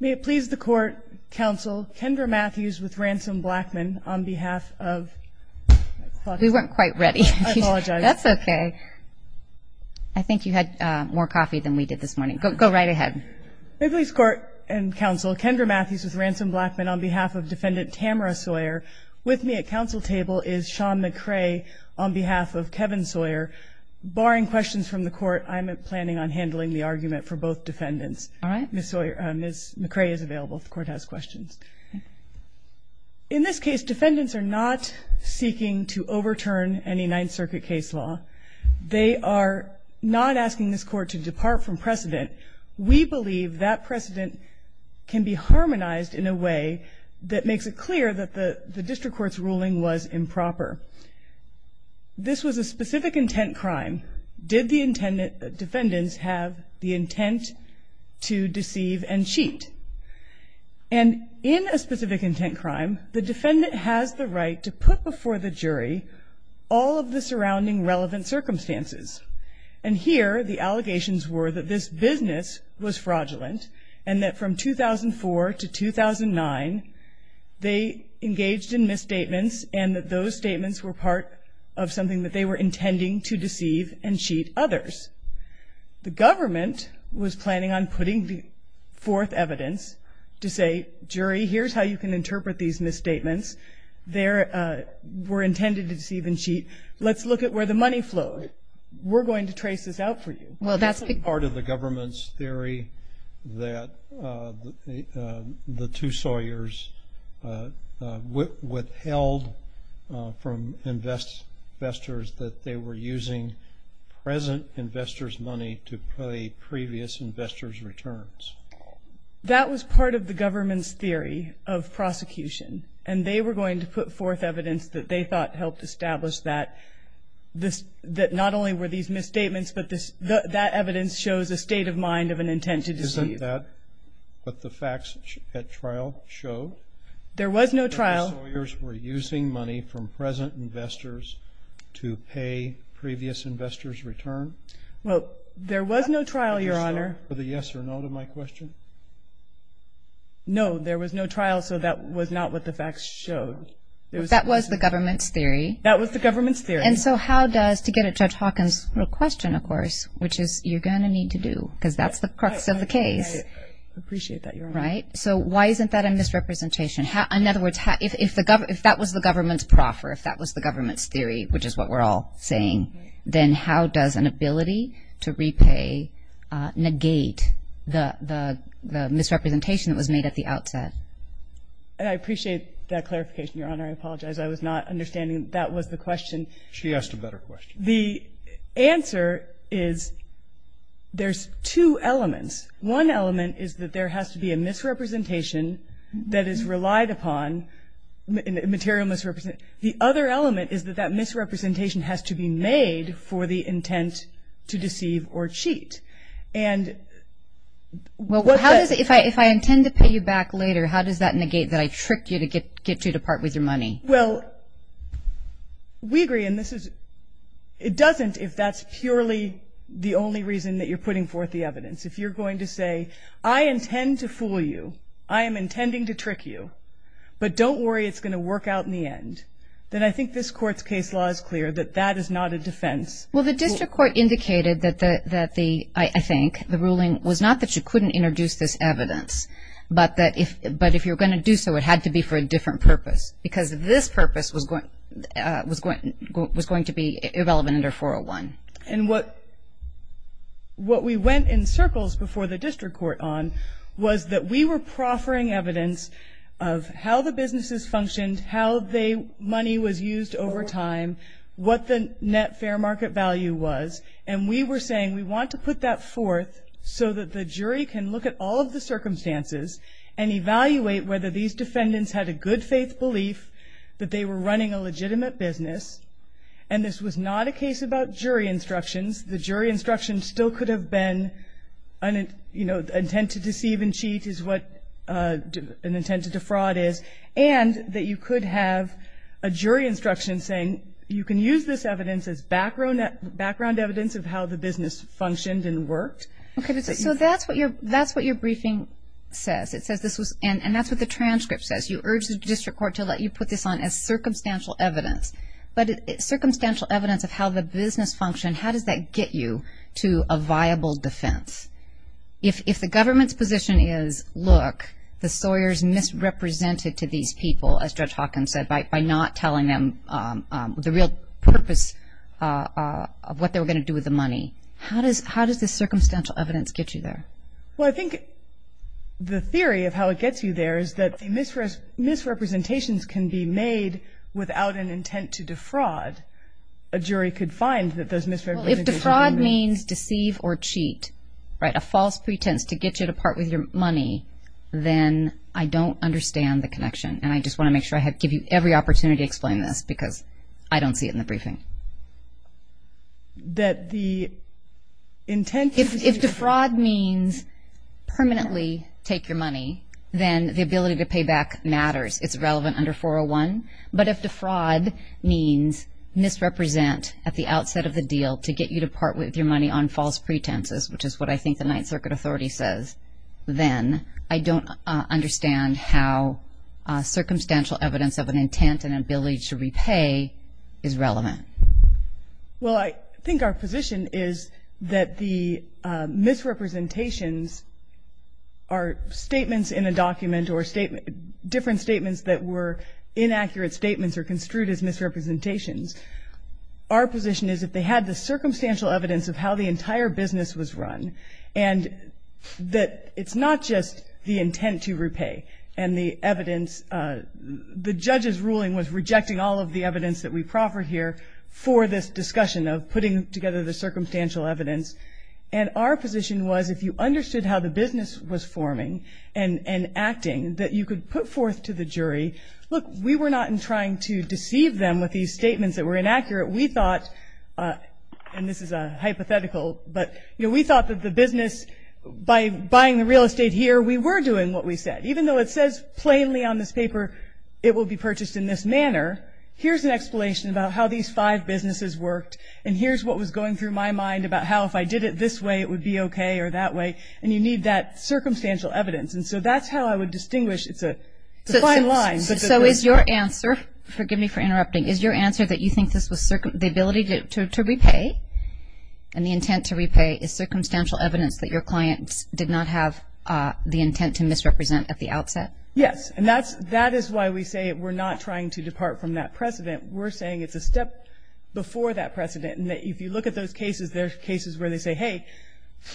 May it please the Court, Counsel Kendra Matthews v. Ransom Blackman on behalf of Defendant Tamara Sawyer With me at counsel table is Sean McCrae on behalf of Kevin Sawyer Barring questions from the Court, I'm planning on handling the argument for both defendants. Ms. McCrae is available if the Court has questions. In this case, defendants are not seeking to overturn any Ninth Circuit case law. They are not asking this Court to depart from precedent. We believe that precedent can be harmonized in a way that makes it clear that the district court's ruling was improper. This was a specific intent crime. Did the defendant have the intent to deceive and cheat? And in a specific intent crime, the defendant has the right to put before the jury all of the surrounding relevant circumstances. And here the allegations were that this business was fraudulent and that from 2004 to 2009, they engaged in misstatements and that those statements were part of something that they were intending to deceive and cheat others. The government was planning on putting forth evidence to say, jury, here's how you can interpret these misstatements. They were intended to deceive and cheat. Let's look at where the money flowed. We're going to trace this out for you. Well, that's part of the government's theory that the two Sawyers withheld from investors that they were using present investors' money to pay previous investors' returns. That was part of the government's theory of prosecution, and they were going to put forth evidence that they thought helped establish that not only were these misstatements but that evidence shows a state of mind of an intent to deceive. Isn't that what the facts at trial show? There was no trial. That the Sawyers were using money from present investors to pay previous investors' return? Well, there was no trial, Your Honor. Did you show the yes or no to my question? No, there was no trial, so that was not what the facts showed. That was the government's theory. That was the government's theory. And so how does, to get at Judge Hawkins' question, of course, which is you're going to need to do because that's the crux of the case. I appreciate that, Your Honor. Right? So why isn't that a misrepresentation? In other words, if that was the government's proffer, if that was the government's theory, which is what we're all saying, then how does an ability to repay negate the misrepresentation that was made at the outset? I appreciate that clarification, Your Honor. I apologize. I was not understanding that that was the question. She asked a better question. The answer is there's two elements. One element is that there has to be a misrepresentation that is relied upon, a material misrepresentation. The other element is that that misrepresentation has to be made for the intent to deceive or cheat. And what the – Well, if I intend to pay you back later, how does that negate that I tricked you to get you to part with your money? Well, we agree, and this is – it doesn't if that's purely the only reason that you're putting forth the evidence. If you're going to say, I intend to fool you, I am intending to trick you, but don't worry, it's going to work out in the end, then I think this Court's case law is clear that that is not a defense. Well, the district court indicated that the – I think the ruling was not that you couldn't introduce this evidence, but that if you're going to do so, it had to be for a different purpose because this purpose was going to be relevant under 401. And what we went in circles before the district court on was that we were proffering evidence of how the businesses functioned, how money was used over time, what the net fair market value was, and we were saying we want to put that forth so that the jury can look at all of the circumstances and evaluate whether these defendants had a good faith belief that they were running a legitimate business. And this was not a case about jury instructions. The jury instructions still could have been, you know, intent to deceive and cheat is what an intent to defraud is, and that you could have a jury instruction saying you can use this evidence as background evidence of how the business functioned and worked. Okay, so that's what your briefing says. It says this was – and that's what the transcript says. You urge the district court to let you put this on as circumstantial evidence. But circumstantial evidence of how the business functioned, how does that get you to a viable defense? If the government's position is, look, the Sawyers misrepresented to these people, as Judge Hawkins said, by not telling them the real purpose of what they were going to do with the money, how does this circumstantial evidence get you there? Well, I think the theory of how it gets you there is that misrepresentations can be made without an intent to defraud. A jury could find that those misrepresentations. Well, if defraud means deceive or cheat, right, a false pretense to get you to part with your money, then I don't understand the connection, and I just want to make sure I give you every opportunity to explain this because I don't see it in the briefing. If defraud means permanently take your money, then the ability to pay back matters. It's relevant under 401. But if defraud means misrepresent at the outset of the deal to get you to part with your money on false pretenses, which is what I think the Ninth Circuit Authority says, then I don't understand how circumstantial evidence of an intent and ability to repay is relevant. Well, I think our position is that the misrepresentations are statements in a document or different statements that were inaccurate statements or construed as misrepresentations. Our position is if they had the circumstantial evidence of how the entire business was run and that it's not just the intent to repay and the evidence, the judge's ruling was rejecting all of the evidence that we proffer here for this discussion of putting together the circumstantial evidence. And our position was if you understood how the business was forming and acting, that you could put forth to the jury, look, we were not in trying to deceive them with these statements that were inaccurate. We thought, and this is a hypothetical, but we thought that the business, by buying the real estate here, we were doing what we said, even though it says plainly on this paper it will be purchased in this manner, here's an explanation about how these five businesses worked and here's what was going through my mind about how if I did it this way it would be okay or that way, and you need that circumstantial evidence. And so that's how I would distinguish. It's a fine line. So is your answer, forgive me for interrupting, is your answer that you think the ability to repay and the intent to repay is circumstantial evidence that your clients did not have the intent to misrepresent at the outset? Yes. And that is why we say we're not trying to depart from that precedent. We're saying it's a step before that precedent and that if you look at those cases, there are cases where they say, hey,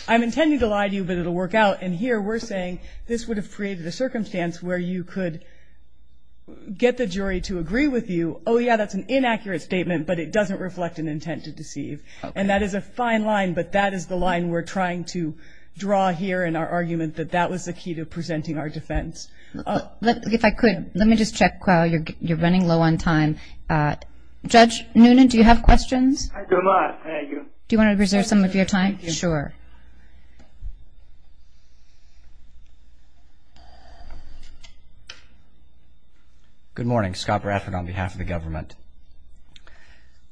I'm intending to lie to you, but it will work out. And here we're saying this would have created a circumstance where you could get the jury to agree with you, oh, yeah, that's an inaccurate statement, but it doesn't reflect an intent to deceive. And that is a fine line, but that is the line we're trying to draw here in our argument, that that was the key to presenting our defense. If I could, let me just check while you're running low on time. Judge Noonan, do you have questions? I do not. Thank you. Do you want to reserve some of your time? Sure. Good morning. Scott Bradford on behalf of the government.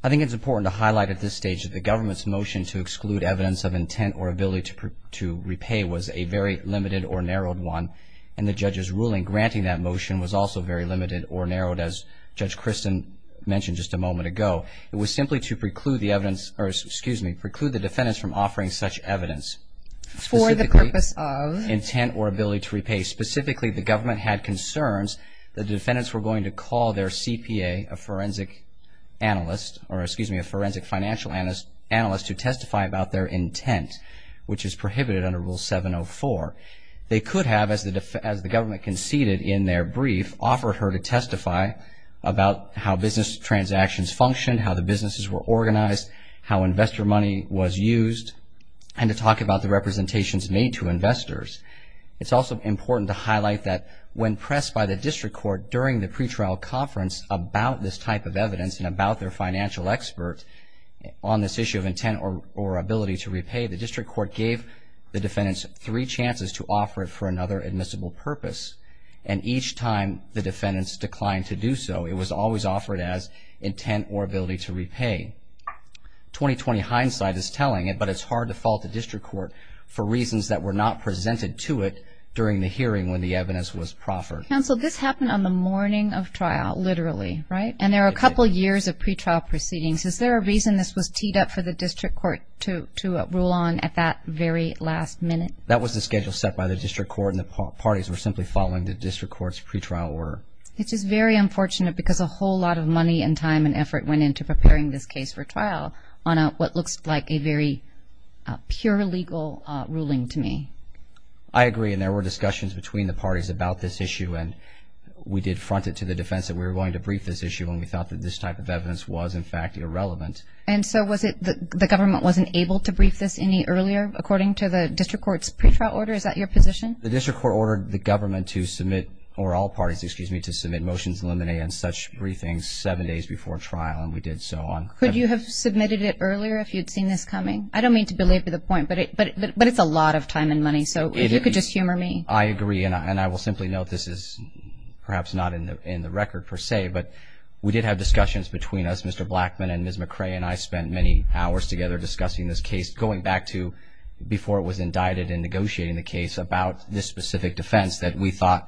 I think it's important to highlight at this stage that the government's motion to exclude evidence of intent or ability to repay was a very limited or narrowed one. And the judge's ruling granting that motion was also very limited or narrowed, as Judge Christin mentioned just a moment ago. It was simply to preclude the evidence, or excuse me, preclude the defendants from offering such evidence. For the purpose of? Intent or ability to repay. Specifically, the government had concerns that the defendants were going to call their CPA, a forensic analyst, or excuse me, a forensic financial analyst, to testify about their intent, which is prohibited under Rule 704. They could have, as the government conceded in their brief, offered her to testify about how business transactions functioned, how the businesses were organized, how investor money was used, and to talk about the representations made to investors. It's also important to highlight that when pressed by the district court during the pretrial conference about this type of evidence and about their financial expert on this issue of intent or ability to repay, the district court gave the defendants three chances to offer it for another admissible purpose. And each time the defendants declined to do so, it was always offered as intent or ability to repay. 2020 hindsight is telling it, but it's hard to fault the district court for reasons that were not presented to it during the hearing when the evidence was proffered. Counsel, this happened on the morning of trial, literally, right? And there are a couple years of pretrial proceedings. Is there a reason this was teed up for the district court to rule on at that very last minute? That was the schedule set by the district court, and the parties were simply following the district court's pretrial order. Which is very unfortunate because a whole lot of money and time and effort went into preparing this case for trial on what looks like a very pure legal ruling to me. I agree, and there were discussions between the parties about this issue, and we did front it to the defense that we were going to brief this issue when we thought that this type of evidence was, in fact, irrelevant. And so was it the government wasn't able to brief this any earlier, according to the district court's pretrial order? Is that your position? The district court ordered the government to submit, or all parties, excuse me, and such briefings seven days before trial, and we did so on. Could you have submitted it earlier if you'd seen this coming? I don't mean to belabor the point, but it's a lot of time and money. So if you could just humor me. I agree, and I will simply note this is perhaps not in the record per se, but we did have discussions between us, Mr. Blackman and Ms. McRae, and I spent many hours together discussing this case, going back to before it was indicted and negotiating the case about this specific defense that we thought,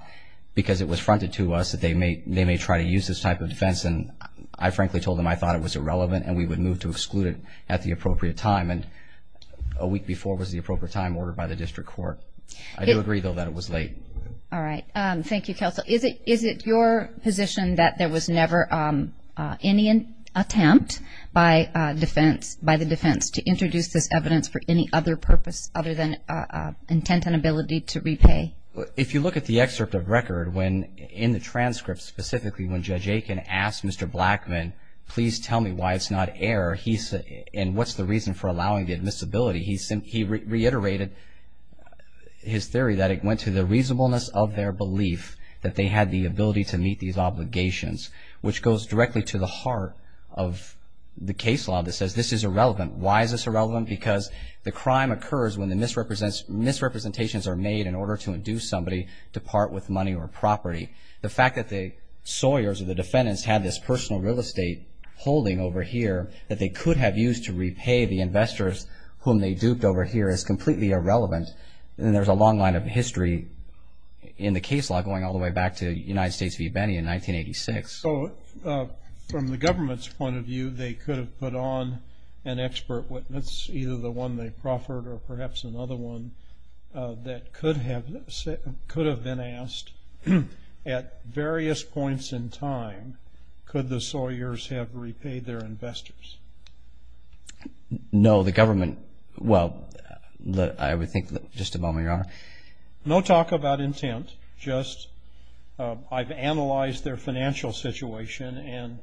because it was fronted to us, that they may try to use this type of defense. And I frankly told them I thought it was irrelevant and we would move to exclude it at the appropriate time. And a week before was the appropriate time ordered by the district court. I do agree, though, that it was late. All right. Thank you, counsel. Is it your position that there was never any attempt by the defense to introduce this evidence for any other purpose other than intent and ability to repay? If you look at the excerpt of record in the transcript, specifically when Judge Aiken asked Mr. Blackman, please tell me why it's not error and what's the reason for allowing the admissibility, he reiterated his theory that it went to the reasonableness of their belief that they had the ability to meet these obligations, which goes directly to the heart of the case law that says this is irrelevant. Why is this irrelevant? Because the crime occurs when the misrepresentations are made in order to induce somebody to part with money or property. The fact that the Sawyers or the defendants had this personal real estate holding over here that they could have used to repay the investors whom they duped over here is completely irrelevant. And there's a long line of history in the case law going all the way back to United States v. Benny in 1986. So from the government's point of view, they could have put on an expert witness, either the one they proffered or perhaps another one that could have been asked, at various points in time, could the Sawyers have repaid their investors? No, the government, well, I would think, just a moment, Your Honor. No talk about intent, just I've analyzed their financial situation, and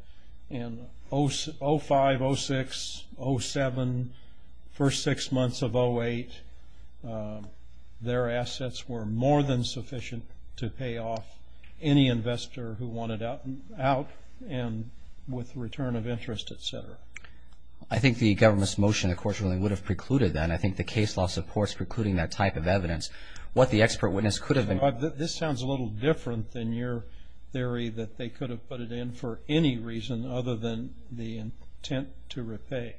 in 05, 06, 07, first six months of 08, their assets were more than sufficient to pay off any investor who wanted out and with return of interest, et cetera. I think the government's motion, of course, really would have precluded that. And I think the case law supports precluding that type of evidence. What the expert witness could have been. This sounds a little different than your theory that they could have put it in for any reason other than the intent to repay.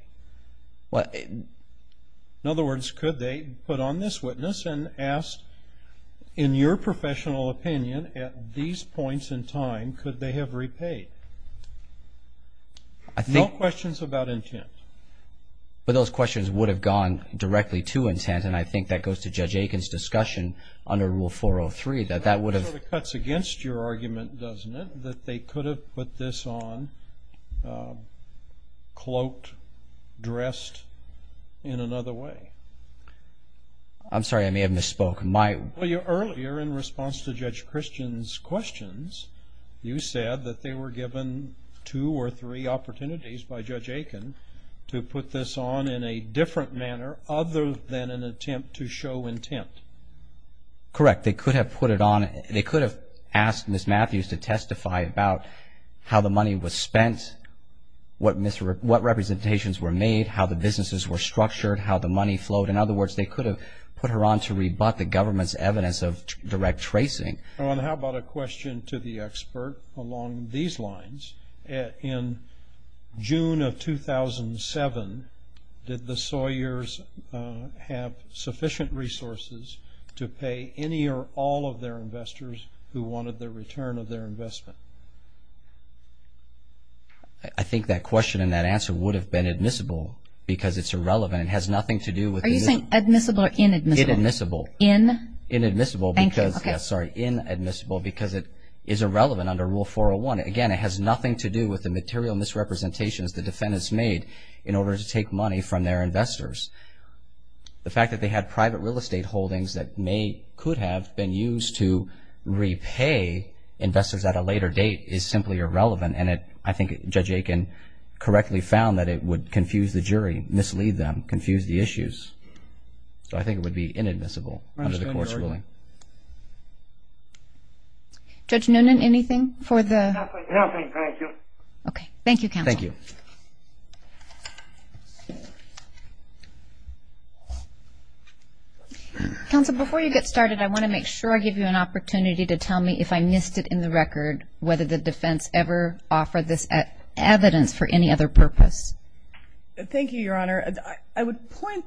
In other words, could they put on this witness and ask, in your professional opinion, at these points in time, could they have repaid? No questions about intent. But those questions would have gone directly to intent, and I think that goes to Judge Aiken's discussion under Rule 403 that that would have. That sort of cuts against your argument, doesn't it, that they could have put this on, cloaked, dressed in another way? I'm sorry, I may have misspoke. Earlier, in response to Judge Christian's questions, you said that they were given two or three opportunities by Judge Aiken to put this on in a different manner other than an attempt to show intent. Correct. They could have put it on. They could have asked Ms. Matthews to testify about how the money was spent, what representations were made, how the businesses were structured, how the money flowed. In other words, they could have put her on to rebut the government's evidence of direct tracing. How about a question to the expert along these lines? In June of 2007, did the Sawyers have sufficient resources to pay any or all of their investors who wanted the return of their investment? I think that question and that answer would have been admissible because it's irrelevant. It has nothing to do with the need. Are you saying admissible or inadmissible? Inadmissible. In? Inadmissible. Thank you. Sorry. Inadmissible because it is irrelevant under Rule 401. Again, it has nothing to do with the material misrepresentations the defendants made in order to take money from their investors. The fact that they had private real estate holdings that may, could have been used to repay investors at a later date is simply irrelevant, and I think Judge Aiken correctly found that it would confuse the jury, mislead them, confuse the issues. So I think it would be inadmissible under the court's ruling. Judge Noonan, anything for the? Nothing, thank you. Okay. Thank you, counsel. Thank you. Counsel, before you get started, I want to make sure I give you an opportunity to tell me if I missed it in the record, whether the defense ever offered this evidence for any other purpose. Thank you, Your Honor. I would point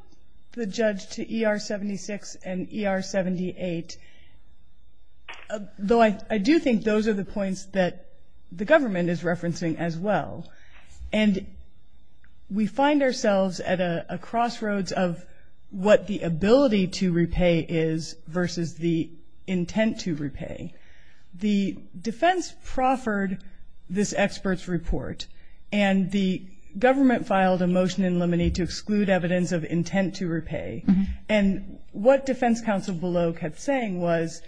the judge to ER-76 and ER-78, though I do think those are the points that the government is referencing as well. And we find ourselves at a crossroads of what the ability to repay is versus the intent to repay. The defense proffered this expert's report, and the government filed a motion in limine to exclude evidence of intent to repay. And what defense counsel Belok had saying was,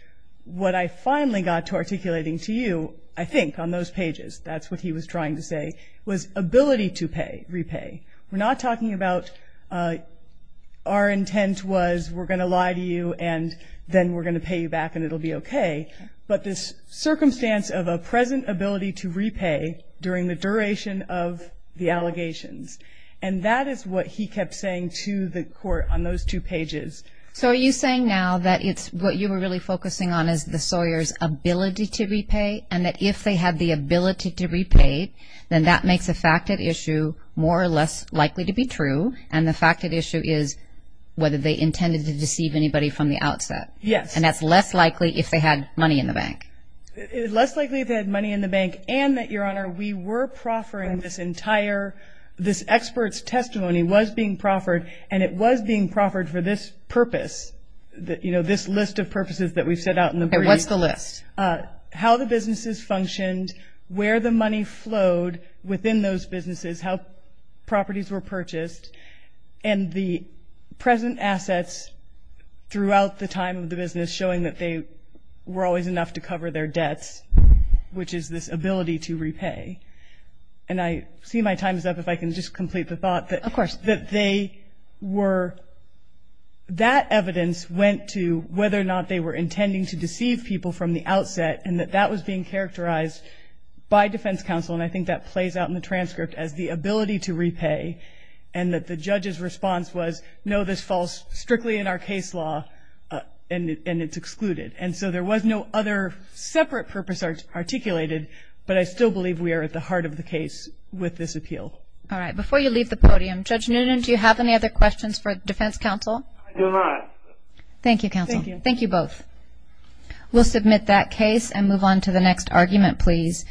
what I finally got to articulating to you, I think, on those pages, that's what he was trying to say, was ability to repay. We're not talking about our intent was we're going to lie to you and then we're going to pay you back and it will be okay. But this circumstance of a present ability to repay during the duration of the allegations. And that is what he kept saying to the court on those two pages. So are you saying now that it's what you were really focusing on is the Sawyers' ability to repay and that if they had the ability to repay, then that makes a facted issue more or less likely to be true, and the facted issue is whether they intended to deceive anybody from the outset. Yes. And that's less likely if they had money in the bank. It's less likely if they had money in the bank and that, Your Honor, we were proffering this entire, this expert's testimony was being proffered, and it was being proffered for this purpose, you know, this list of purposes that we've set out in the brief. And what's the list? How the businesses functioned, where the money flowed within those businesses, how properties were purchased, and the present assets throughout the time of the business showing that they were always enough to cover their debts, which is this ability to repay. And I see my time is up. If I can just complete the thought that they were, that evidence went to whether or not they were intending to deceive people from the outset and that that was being characterized by defense counsel, and I think that plays out in the transcript as the ability to repay and that the judge's response was, no, this falls strictly in our case law and it's excluded. And so there was no other separate purpose articulated, but I still believe we are at the heart of the case with this appeal. All right. Before you leave the podium, Judge Noonan, do you have any other questions for defense counsel? I do not. Thank you, counsel. Thank you. We'll submit that case and move on to the next argument, please.